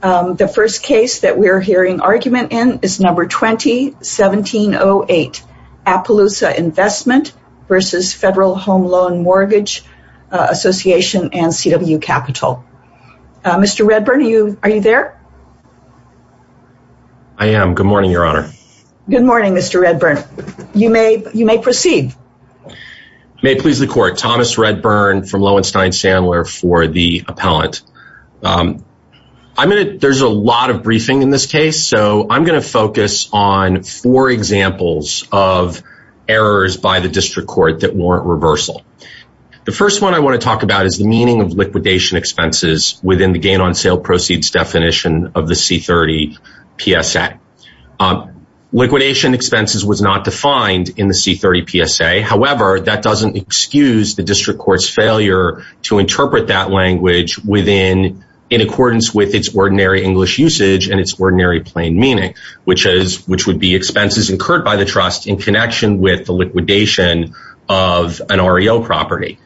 The first case that we're hearing argument in is number 20-1708 Appaloosa Investment versus Federal Home Loan Mortgage Association and CW Capital. Mr. Redburn, are you there? I am. Good morning, Your Honor. Good morning, Mr. Redburn. You may proceed. I may please the court. Thomas Redburn from Lowenstein-Sandler for the appellant. There's a lot of briefing in this case, so I'm going to focus on four examples of errors by the district court that warrant reversal. The first one I want to talk about is the meaning of liquidation expenses within the gain on sale proceeds definition of the C-30 PSA. Liquidation expenses was not defined in the C-30 PSA. However, that doesn't excuse the district court's failure to interpret that language in accordance with its ordinary English usage and its ordinary plain meaning, which would be expenses incurred by the trust in connection with the liquidation of an REO property.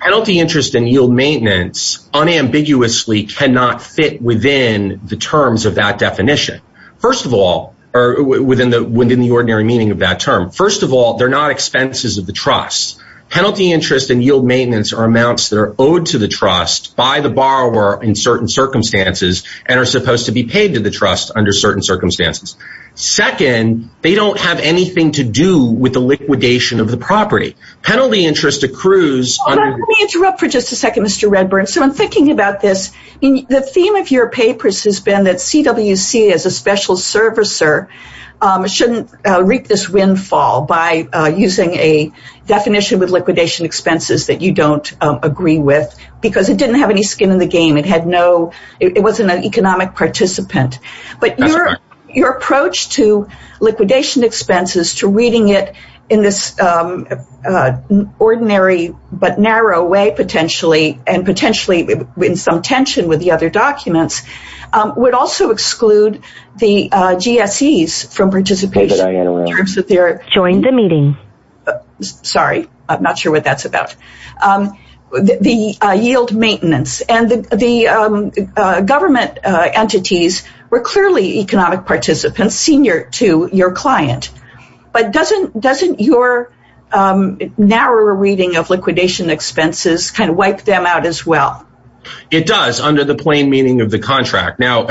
Penalty interest and yield maintenance unambiguously cannot fit within the terms of that definition, within the ordinary meaning of that term. First of all, they're not expenses of the trust. Penalty interest and yield maintenance are amounts that are owed to the trust by the borrower in certain circumstances and are supposed to be paid to the trust under certain circumstances. Second, they don't have anything to do with the liquidation of the property. Penalty interest accrues— Let me interrupt for just a second, Mr. Redburn. I'm thinking about this. The theme of your papers has been that CWC as a special servicer shouldn't reap this windfall by using a definition with liquidation expenses that you don't agree with because it didn't have any skin in the game. It wasn't an economic participant, but your approach to liquidation expenses, to reading it in this ordinary but narrow way and potentially in some tension with the other documents, would also exclude the GSEs from participation. Sorry, I'm not sure what that's about. The yield maintenance and the government entities were clearly economic participants, your client. But doesn't your narrower reading of liquidation expenses wipe them out as well? It does under the plain meaning of the contract. Now,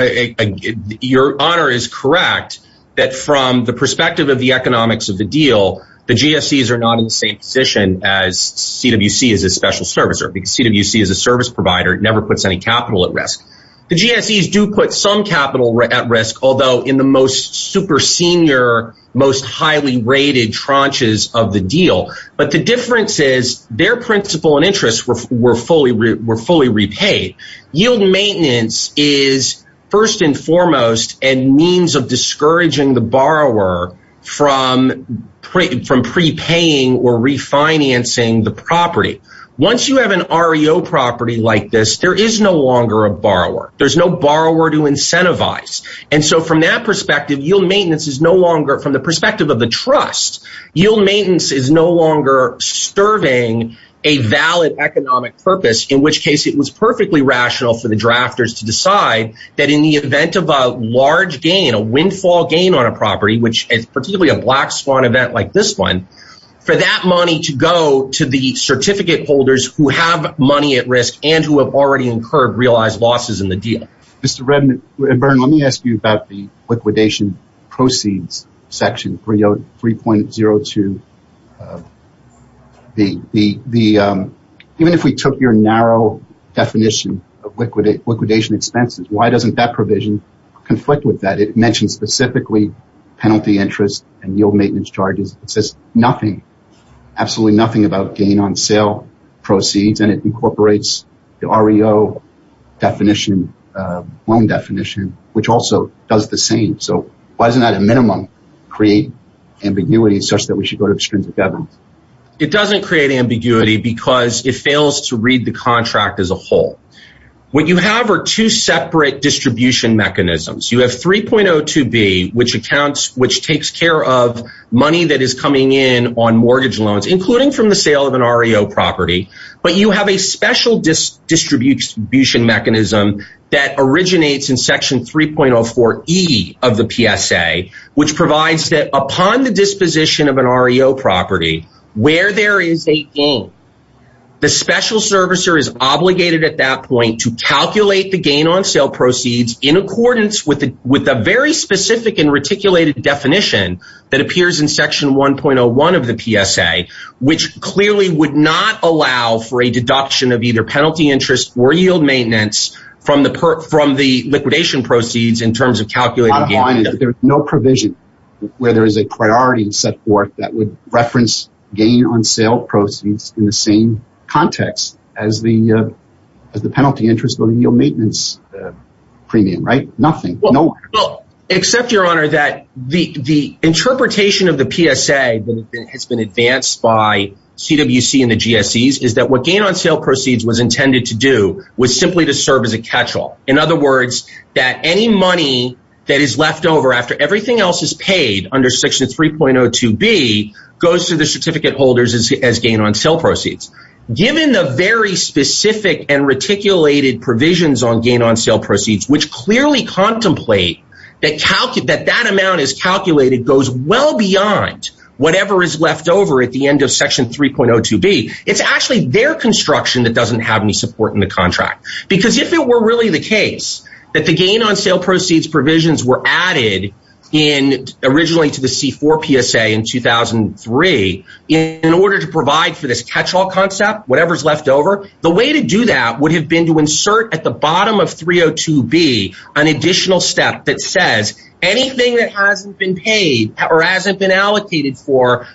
your honor is correct that from the perspective of the economics of the deal, the GSEs are not in the same position as CWC as a special servicer because CWC as a service provider never puts any capital at risk. The GSEs do put some capital at risk, although in the most super senior, most highly rated tranches of the deal. But the difference is their principle and interests were fully repaid. Yield maintenance is first and foremost a means of discouraging the borrower from prepaying or there's no borrower to incentivize. And so from that perspective, yield maintenance is no longer from the perspective of the trust. Yield maintenance is no longer serving a valid economic purpose, in which case it was perfectly rational for the drafters to decide that in the event of a large gain, a windfall gain on a property, which is particularly a black swan event like this one, for that money to go to the certificate holders who have money at risk and who have already incurred realized losses in the deal. Mr. Redmond and Byrne, let me ask you about the liquidation proceeds section 3.02. Even if we took your narrow definition of liquidation expenses, why doesn't that provision conflict with that? It mentions specifically penalty interest and yield maintenance charges. It says nothing, absolutely nothing about gain on sale proceeds, and it incorporates the REO loan definition, which also does the same. So why doesn't that at a minimum create ambiguity such that we should go to the strings of evidence? It doesn't create ambiguity because it fails to read the contract as a whole. What you have are two separate distribution mechanisms. You have 3.02b, which accounts, takes care of money that is coming in on mortgage loans, including from the sale of an REO property. But you have a special distribution mechanism that originates in section 3.04e of the PSA, which provides that upon the disposition of an REO property, where there is a gain, the special servicer is obligated at that point to calculate the gain on sale proceeds in accordance with a very specific and reticulated definition that appears in section 1.01 of the PSA, which clearly would not allow for a deduction of either penalty interest or yield maintenance from the liquidation proceeds in terms of calculating gain. There is no provision where there is a priority set forth that would reference gain on sale proceeds in the same context as the penalty interest or yield maintenance premium, right? Nothing. Except, Your Honor, that the interpretation of the PSA that has been advanced by CWC and the GSEs is that what gain on sale proceeds was intended to do was simply to serve as a catch-all. In other words, that any money that is left over after everything else is paid under section 3.02b goes to the certificate holders as gain on sale proceeds. Given the very specific and reticulated provisions on gain on sale proceeds, which clearly contemplate that that amount is calculated goes well beyond whatever is left over at the end of section 3.02b, it's actually their construction that doesn't have any support in the contract. Because if it were really the case that the gain on sale proceeds provisions were added in originally to the C4 PSA in 2003 in order to provide for this catch-all concept, whatever's left over, the way to do that would have been to insert at the bottom of 3.02b an additional step that says anything that hasn't been paid or hasn't been allocated for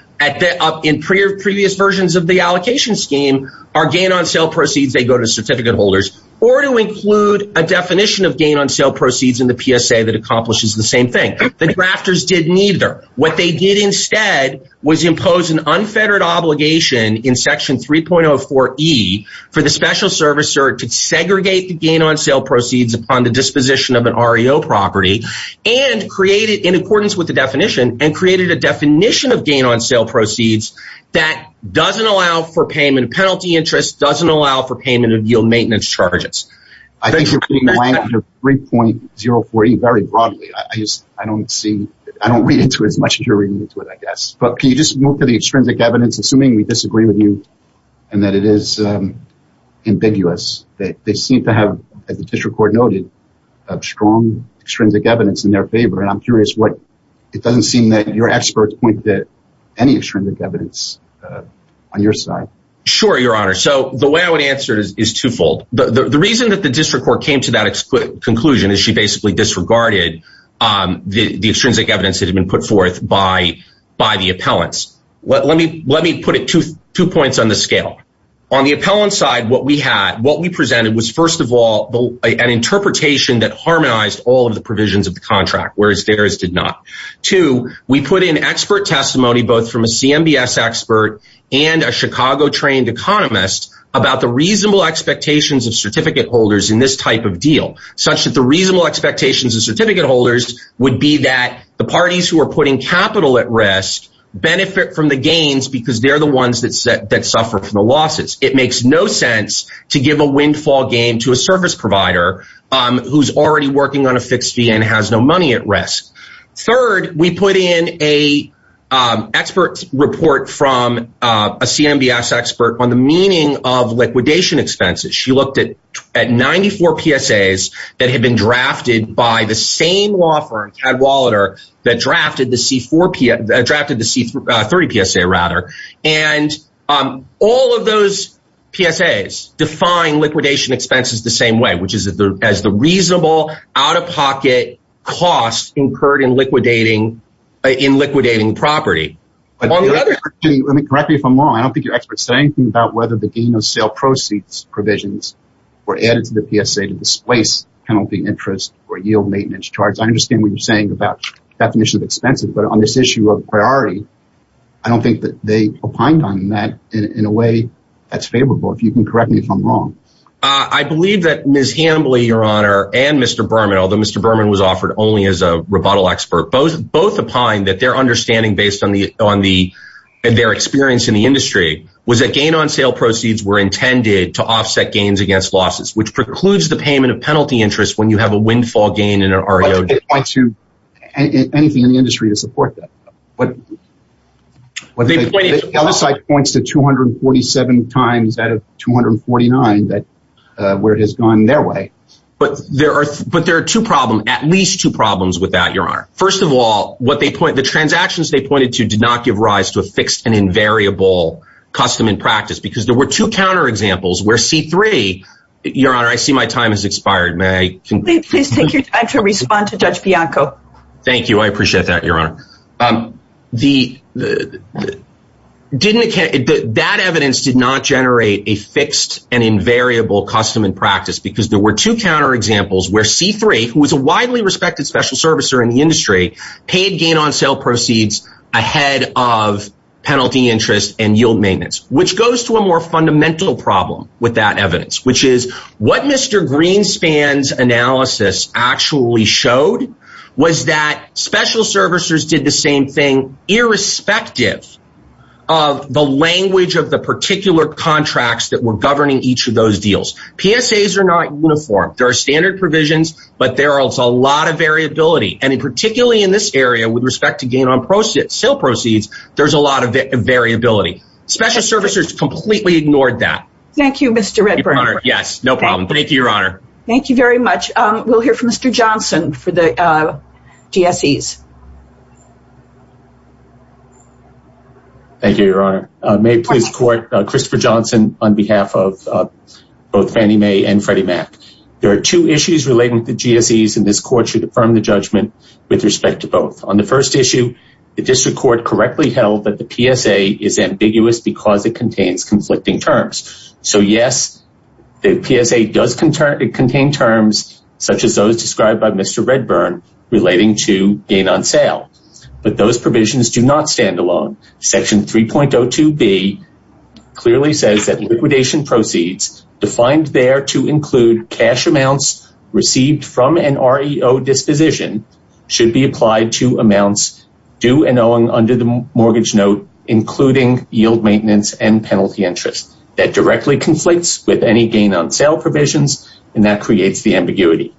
in previous versions of the allocation scheme are gain on sale proceeds. They go to certificate holders or to include a definition of gain on sale proceeds in the PSA that accomplishes the same thing. The drafters didn't either. What they did instead was impose an unfettered obligation in section 3.04e for the special servicer to segregate the gain on sale proceeds upon the disposition of an REO property and create it in accordance with the definition and created a definition of gain on sale proceeds that doesn't allow for payment of penalty interest, doesn't allow for payment of yield maintenance charges. I think you're putting the language of 3.04e very broadly. I just, I don't see, I don't read into it as much as you're reading into it, I guess. But can you just move to the extrinsic evidence, assuming we disagree with you and that it is ambiguous, that they seem to have, as the district court noted, strong extrinsic evidence in their favor. And I'm curious what, it doesn't seem that your experts point to any extrinsic evidence on your side. Sure, your honor. So the way I would answer it is twofold. The reason that the district court came to that conclusion is she basically disregarded the extrinsic evidence that had been put forth by the appellants. Let me put it two points on the scale. On the appellant side, what we had, what we presented was, first of all, an interpretation that harmonized all of the provisions of the contract, whereas theirs did not. Two, we put in expert testimony, both from a CMBS expert and a Chicago-trained economist, about the reasonable expectations of certificate holders in this type of deal, such that the reasonable expectations of certificate holders would be that the parties who are putting capital at risk benefit from the gains because they're the ones that suffer from the losses. It makes no sense to give a windfall game to a service provider who's already working on a fixed fee and has no money at risk. Third, we put in an expert report from a CMBS expert on the meaning of liquidation expenses. She looked at 94 PSAs that had been drafted by the same law firm, Cadwallader, that drafted the C-30 PSA, and all of those PSAs define liquidation expenses the same way, as the reasonable, out-of-pocket costs incurred in liquidating property. Correct me if I'm wrong. I don't think your experts say anything about whether the gain of sale proceeds provisions were added to the PSA to displace penalty interest or yield maintenance charge. I understand what you're saying about definitions of expenses, but on this issue of priority, I don't think that they opined on that in a way that's favorable. If you can correct me if I'm wrong. I believe that Ms. Hambly, your honor, and Mr. Berman, although Mr. Berman was offered only as a rebuttal expert, both opined that their understanding based on their experience in the industry was that gain on sale proceeds were intended to offset gains against losses, which precludes the payment of penalty interest when you have a windfall gain in an REOG. But they didn't point to anything in the industry to support that. The other side points to 247 times out of 249 where it has gone their way. But there are two problems, at least two problems with that, your honor. First of all, the transactions they pointed to did not give rise to a fixed and invariable custom and practice because there were two counterexamples where C3, your honor, I see my time has expired. Please take your time to respond to Judge Bianco. Thank you. I appreciate that, your honor. But that evidence did not generate a fixed and invariable custom and practice because there were two counterexamples where C3, who was a widely respected special servicer in the industry, paid gain on sale proceeds ahead of penalty interest and yield maintenance, which goes to a more fundamental problem with that evidence, which is what Mr. Greenspan's actually showed was that special servicers did the same thing irrespective of the language of the particular contracts that were governing each of those deals. PSAs are not uniform. There are standard provisions, but there are also a lot of variability. And particularly in this area, with respect to gain on sale proceeds, there's a lot of variability. Special servicers completely ignored that. Thank you, Mr. Redburn. Yes, no problem. Thank you, your honor. Thank you very much. We'll hear from Mr. Johnson for the GSEs. Thank you, your honor. May I please report Christopher Johnson on behalf of both Fannie Mae and Freddie Mac. There are two issues relating to GSEs, and this court should affirm the judgment with respect to both. On the first issue, the district court correctly held that the PSA is ambiguous because it contains conflicting terms. So yes, the PSA does contain terms such as those described by Mr. Redburn relating to gain on sale, but those provisions do not stand alone. Section 3.02B clearly says that liquidation proceeds defined there to include cash amounts received from an REO disposition should be applied to amounts due and owing under the mortgage note, including yield maintenance and penalty interest. That directly conflicts with any gain on sale provisions, and that creates the ambiguity.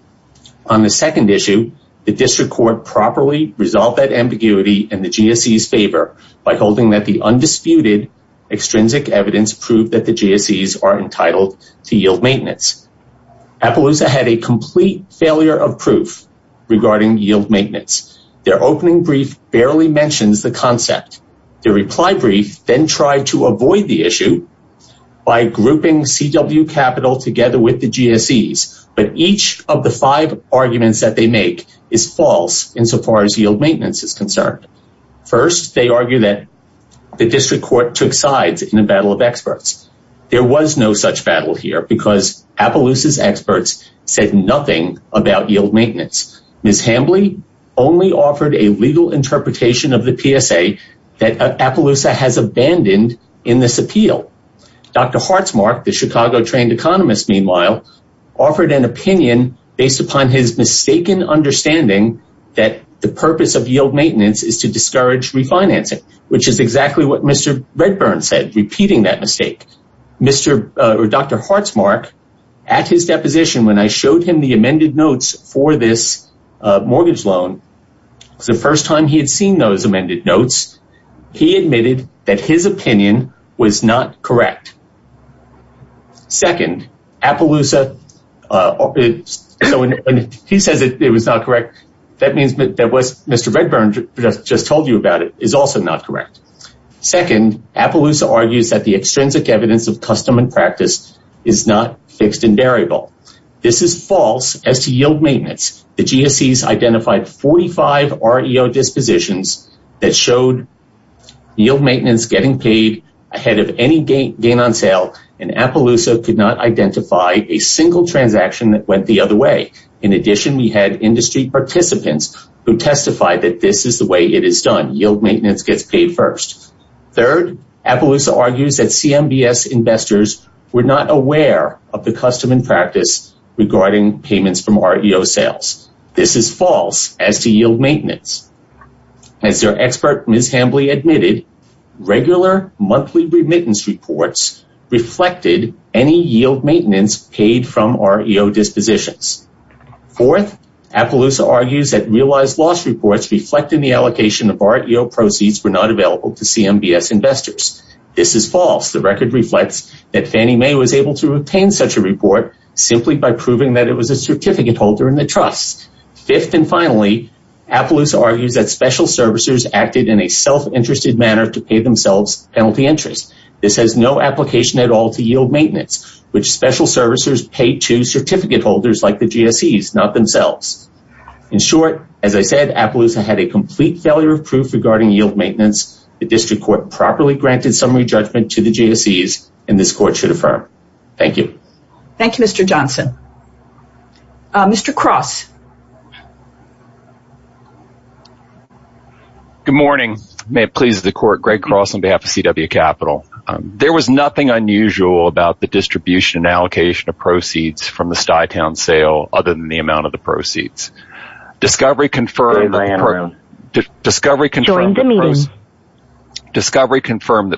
On the second issue, the district court properly resolved that ambiguity in the GSEs favor by holding that the undisputed extrinsic evidence proved that the GSEs are entitled to yield maintenance. Appaloosa had a complete failure of proof regarding yield maintenance. Their opening brief barely mentions the concept. The reply brief then tried to avoid the issue by grouping CW Capital together with the GSEs, but each of the five arguments that they make is false insofar as yield maintenance is concerned. First, they argue that the district court took sides in a battle of experts. There was no such battle here because Appaloosa's experts said nothing about yield maintenance. Ms. Hambly only offered a legal interpretation of the PSA that Appaloosa has abandoned in this appeal. Dr. Hartsmark, the Chicago-trained economist, meanwhile, offered an opinion based upon his mistaken understanding that the purpose of yield maintenance is to discourage refinancing, which is exactly what Mr. Redburn said, repeating that mistake. Mr. or Dr. Hartsmark, at his deposition when I showed him the amended notes for this mortgage loan, the first time he had seen those amended notes, he admitted that his opinion was not correct. Second, Appaloosa, when he says it was not correct, that means that what Mr. Redburn just told you about it is also not correct. Second, Appaloosa argues that the extrinsic evidence of custom and practice is not fixed and variable. This is false as to yield maintenance. The GSEs identified 45 REO dispositions that showed yield maintenance getting paid ahead of any gain on sale, and Appaloosa could not identify a single transaction that went the other way. In addition, we had industry participants who testified that this is the way it is done. Yield maintenance gets paid first. Third, Appaloosa argues that CMBS investors were not aware of the custom and practice regarding payments from REO sales. This is false as to yield maintenance. As their expert, Ms. Hambly, admitted, regular monthly remittance reports reflected any yield maintenance paid from REO dispositions. Fourth, Appaloosa argues that realized loss reports reflecting the allocation of REO proceeds were not available to CMBS investors. This is false. The record reflects that Fannie Mae was able to obtain such a report simply by proving that it was a certificate holder in the trust. Fifth and finally, Appaloosa argues that special servicers acted in a self-interested manner to pay themselves penalty interest. This has no application at all to yield maintenance, which special servicers paid to certificate holders like the GSEs, not themselves. In short, as I said, Appaloosa had a complete failure of proof regarding yield maintenance. The district court properly granted summary judgment to the GSEs and this court should affirm. Thank you. Thank you, Mr. Johnson. Mr. Cross. Good morning. May it please the court. Greg Cross on behalf of CW Capital. There was nothing unusual about the distribution and allocation of proceeds from the Stuy Town sale other than the amount of the proceeds. Discovery confirmed that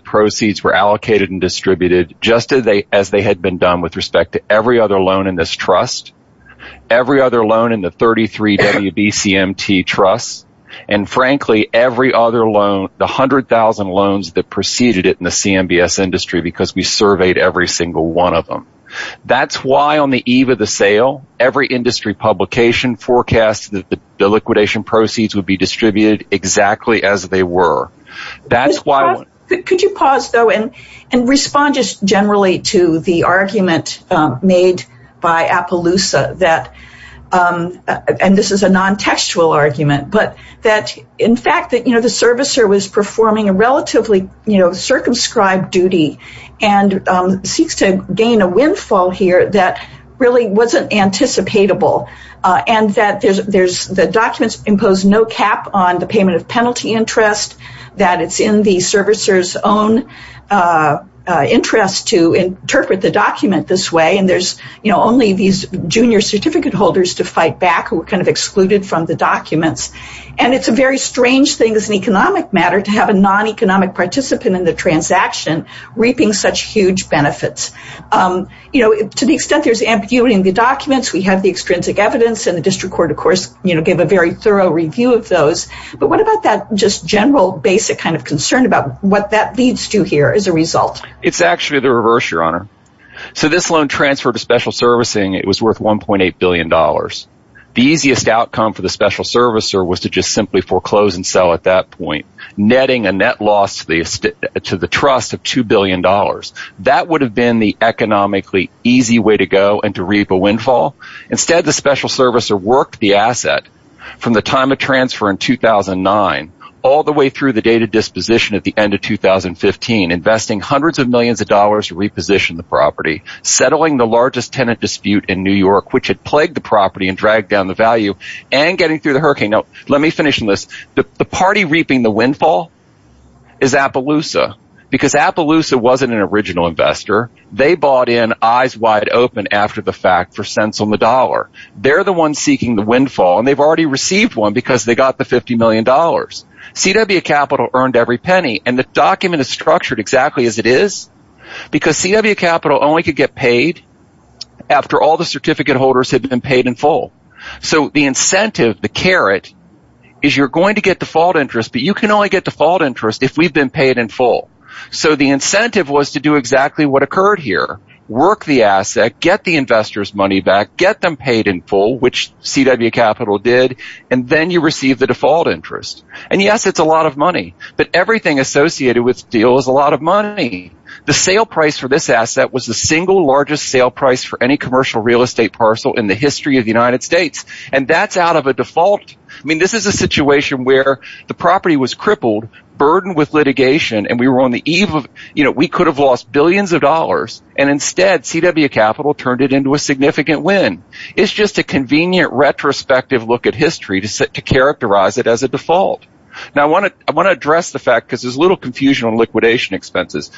proceeds were allocated and distributed just as they had been done with respect to every other loan in this trust, every other loan in the 33 WBCMT trust, and frankly, every other loan, the 100,000 loans that preceded it in the CMBS industry because we surveyed every single one of them. That's why on the eve of the sale, every industry publication forecast that the liquidation proceeds would be distributed exactly as they were. That's why. Could you pause, though, and respond just generally to the argument made by Appaloosa that, and this is a non-textual argument, but that in fact that the servicer was performing a relatively circumscribed duty and seeks to gain a windfall here that really wasn't anticipatable and that the documents impose no cap on the payment of penalty interest, that it's in the servicer's own interest to interpret the document this way, and there's only these junior certificate holders to fight back who were excluded from the documents. It's a very strange thing as an economic matter to have a non-economic participant in the transaction reaping such huge benefits. To the extent there's ambiguity in the documents, we have the extrinsic evidence, and the district court, of course, gave a very thorough review of those, but what about that just general basic concern about what that leads to here as a result? It's actually the reverse, Your Honor. This loan transfer to special servicing, it was worth $1.8 billion. The easiest outcome for the special servicer was to just simply foreclose and sell at that point, netting a net loss to the trust of $2 billion. That would have been the economically easy way to go and to reap a windfall. Instead, the special servicer worked the asset from the time of transfer in 2009 all the way through the date of disposition at the end of 2015, investing hundreds of millions of dollars to reposition the property, settling the largest tenant dispute in New York, which had plagued the property and dragged down the value, and getting through the hurricane. Now, let me finish on this. The party reaping the windfall is Appaloosa because Appaloosa wasn't an original investor. They bought in eyes wide open after the fact for cents on the dollar. They're the ones seeking the windfall, and they've already received one because they got the $50 million. CW Capital earned every penny, and the document is structured exactly as it is because CW Capital only could get paid after all the certificate holders had been paid in full. The incentive, the carrot, is you're going to get default interest, but you can only get default interest if we've been paid in full. The incentive was to do exactly what occurred here, work the asset, get the investor's money back, get them paid in full, which CW Capital did, and then you receive the default interest. Yes, it's a lot of money, but everything associated with the deal is a lot of money. The sale price for this asset was the single largest sale price for any commercial real estate parcel in the history of the United States, and that's out of a default. This is a situation where the property was crippled, burdened with litigation, and we were on the eve of, we could have lost billions of dollars, and instead, CW Capital turned it into a significant win. It's just a convenient retrospective look at history to characterize it as a default. Now, I want to address the fact, because there's a little confusion on liquidation expenses.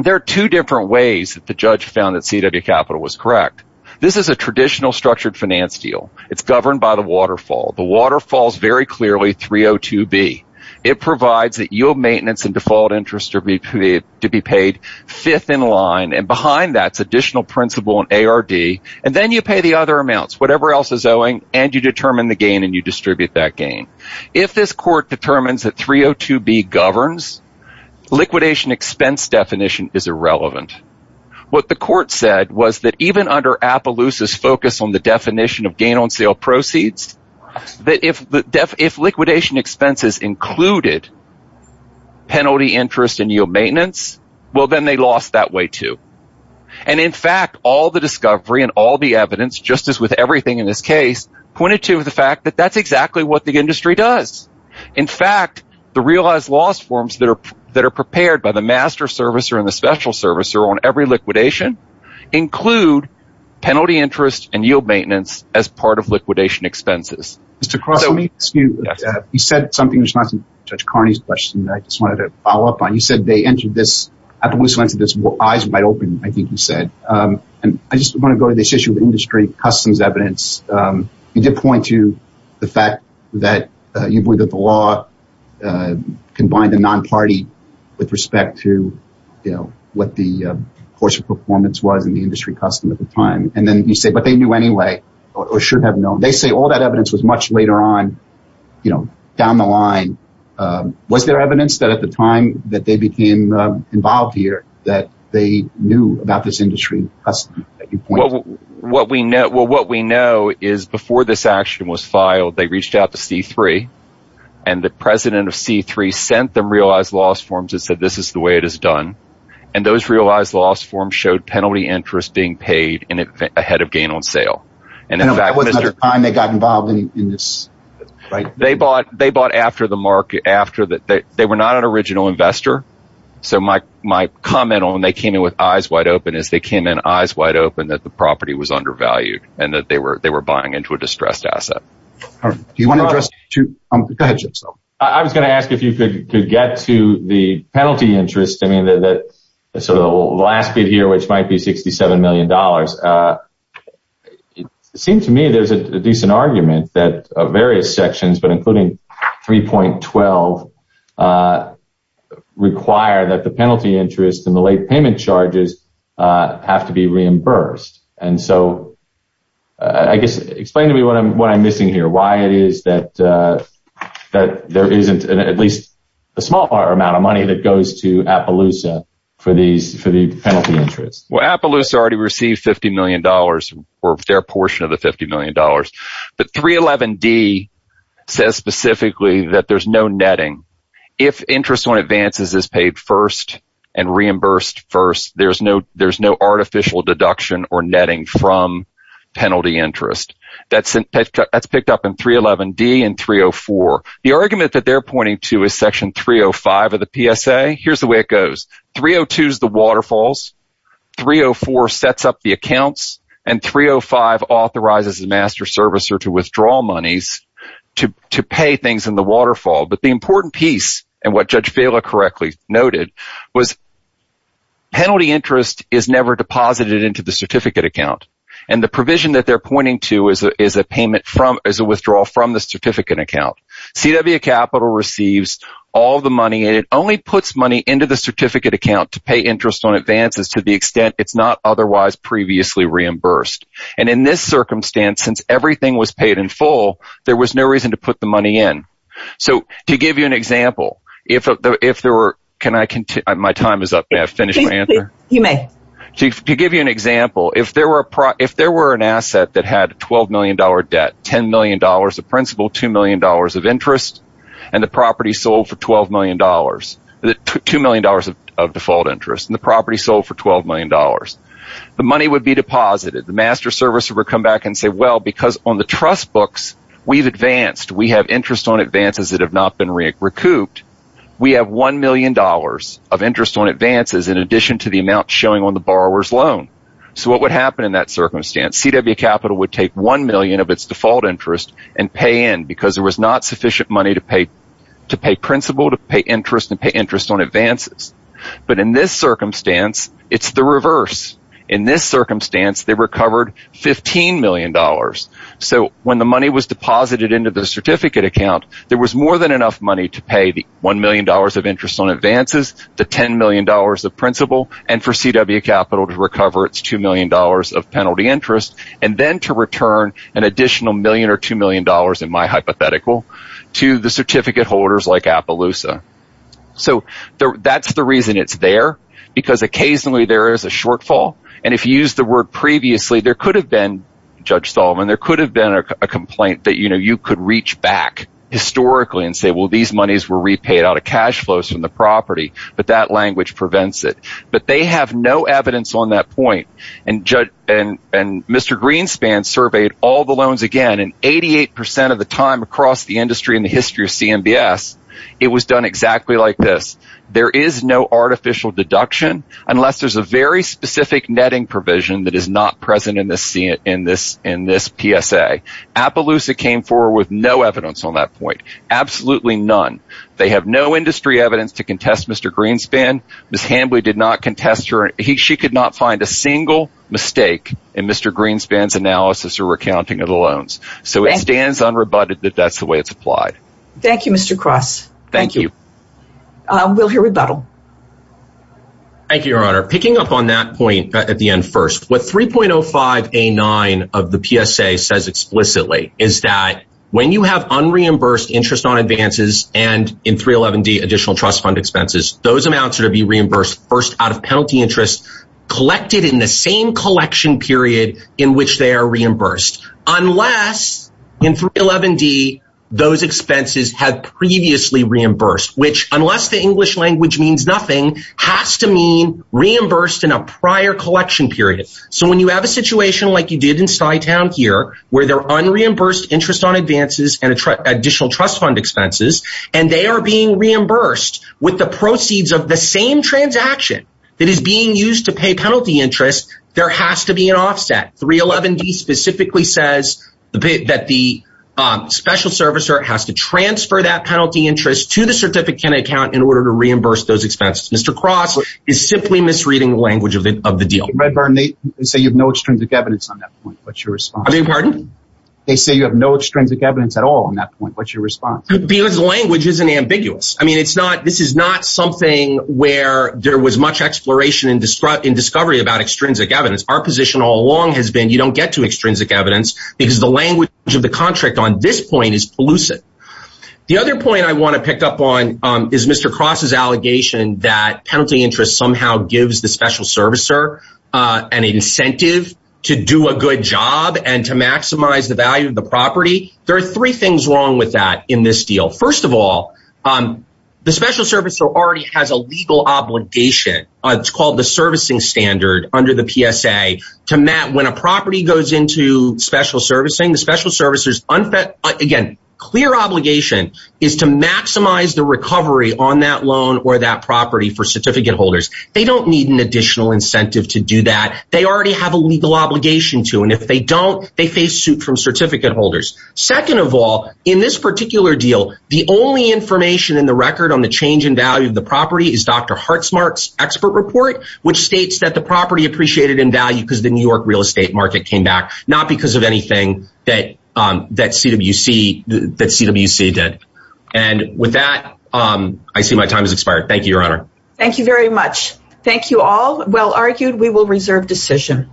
There are two different ways that the judge found that CW Capital was correct. This is a traditional structured finance deal. It's governed by the waterfall. The waterfall is very clearly 302B. It provides that your maintenance and default interest are to be paid fifth in line, and then you pay the other amounts, whatever else is owing, and you determine the gain and you distribute that gain. If this court determines that 302B governs, liquidation expense definition is irrelevant. What the court said was that even under Appaloosa's focus on the definition of gain on sale proceeds, that if liquidation expenses included penalty interest and yield maintenance, well, then they lost that way too. In fact, all the discovery and all the evidence, just as with everything in this case, pointed to the fact that that's exactly what the industry does. In fact, the realized loss forms that are prepared by the master servicer and the special servicer on every liquidation include penalty interest and yield maintenance as part of liquidation expenses. Mr. Cross, let me ask you, you said something in response to Judge Carney's question that I just wanted to follow up on. You said they entered this, Appaloosa entered this, eyes wide open, I think you said. I just want to go to this issue of industry customs evidence. You did point to the fact that you believe that the law combined the non-party with respect to what the course of performance was in the industry custom at the time, and then you say, but they knew anyway, or should have known. They say all that evidence was much later on down the line. Was there evidence that at the time that they became involved here that they knew about this industry custom that you pointed to? Well, what we know is before this action was filed, they reached out to C3 and the president of C3 sent them realized loss forms and said, this is the way it is done. And those realized loss forms showed penalty interest being paid ahead of gain on sale. And that was the time they got involved in this. They bought after the market, they were not an original investor. So my comment on they came in with eyes wide open is they came in eyes wide open that the property was undervalued and that they were buying into a distressed asset. I was going to ask if you could get to the penalty interest. So the last bit here, which might be 67 million dollars, it seems to me there's a decent argument that various sections, but including 3.12, require that the penalty interest and the late payment charges have to be reimbursed. And so I guess explain to me what I'm missing here, why it is that there isn't at least a smaller amount of money that goes to Appaloosa for the penalty interest. Well, Appaloosa already received 50 million dollars or their portion of the 50 million dollars. But 3.11d says specifically that there's no netting. If interest on advances is paid first and reimbursed first, there's no artificial deduction or netting from penalty interest. That's picked up in 3.11d and 3.04. The argument that they're pointing to is Section 305 of the PSA. Here's the way it goes. 3.02 is the waterfalls. 3.04 sets up the accounts and 3.05 authorizes a master servicer to withdraw monies to pay things in the waterfall. But the important piece, and what Judge Vela correctly noted, was penalty interest is never deposited into the certificate account. And the provision that they're pointing to is a withdrawal from the certificate account. CW Capital receives all the money and it only puts money into the certificate account to pay interest on advances to the extent it's not otherwise previously reimbursed. And in this circumstance, since everything was paid in full, there was no reason to put the money in. So to give you an example, if there were... Can I continue? My time is up. May I finish my answer? You may. To give you an example, if there were an asset that had a $12 million debt, $10 million of principal, $2 million of interest, and the property sold for $12 million, $2 million of default interest, and the property sold for $12 million, the money would be deposited. The master servicer would come back and say, well, because on the trust books, we've advanced. We have interest on advances that have not been recouped. We have $1 million of interest on advances in addition to the amount showing on the borrower's loan. So what would happen in that circumstance? CW Capital would take $1 million of its default interest and pay in because there was not sufficient money to pay principal, to pay interest, and pay interest on advances. But in this circumstance, it's the reverse. In this circumstance, they recovered $15 million. So when the money was deposited into the certificate account, there was more than enough to pay the $1 million of interest on advances, the $10 million of principal, and for CW Capital to recover its $2 million of penalty interest and then to return an additional $1 million or $2 million, in my hypothetical, to the certificate holders like Appaloosa. So that's the reason it's there because occasionally there is a shortfall. And if you use the word previously, there could have been, Judge Solomon, there could reach back historically and say, well, these monies were repaid out of cash flows from the property, but that language prevents it. But they have no evidence on that point. And Mr. Greenspan surveyed all the loans again, and 88% of the time across the industry in the history of CMBS, it was done exactly like this. There is no artificial deduction unless there's a very specific netting provision that is not present in this PSA. Appaloosa came forward with no evidence on that point. Absolutely none. They have no industry evidence to contest Mr. Greenspan. Ms. Hambly did not contest her. She could not find a single mistake in Mr. Greenspan's analysis or recounting of the loans. So it stands unrebutted that that's the way it's applied. Thank you, Mr. Cross. Thank you. We'll hear rebuttal. Thank you, Your Honor. Picking up on that point at the end first, what 3.05A9 of the PSA says explicitly is that when you have unreimbursed interest on advances and in 311D additional trust fund expenses, those amounts are to be reimbursed first out of penalty interest collected in the same collection period in which they are reimbursed, unless in 311D those expenses have previously reimbursed, which unless the English language means nothing, has to mean reimbursed in a prior collection period. So when you have a situation like you did in Stuytown here, where they're unreimbursed interest on advances and additional trust fund expenses, and they are being reimbursed with the proceeds of the same transaction that is being used to pay penalty interest, there has to be an offset. 311D specifically says that the special servicer has to transfer that penalty interest to the certificate account in order to reimburse those expenses. Mr. Cross is simply misreading the language of the deal. Redburn, they say you have no extrinsic evidence on that point. What's your response? I beg your pardon? They say you have no extrinsic evidence at all on that point. What's your response? Because the language isn't ambiguous. I mean, this is not something where there was much exploration and discovery about extrinsic evidence. Our position all along has been you don't get to extrinsic evidence because the language of the contract on this point is elusive. The other point I want to pick up on is Mr. Cross's allegation that penalty interest somehow gives the special servicer an incentive to do a good job and to maximize the value of the property. There are three things wrong with that in this deal. First of all, the special servicer already has a legal obligation. It's called the servicing standard under the PSA to when a property goes into special servicing, the special servicer's, again, clear obligation is to maximize the recovery on that loan or that property for certificate holders. They don't need an additional incentive to do that. They already have a legal obligation to and if they don't, they face suit from certificate holders. Second of all, in this particular deal, the only information in the record on the change in value of the property is Dr. Hartzmark's expert report, which states that the property appreciated in value because the New York real estate market came back, not because of anything that CWC did. And with that, I see my time has expired. Thank you, Your Honor. Thank you very much. Thank you all. Well argued. We will reserve decision.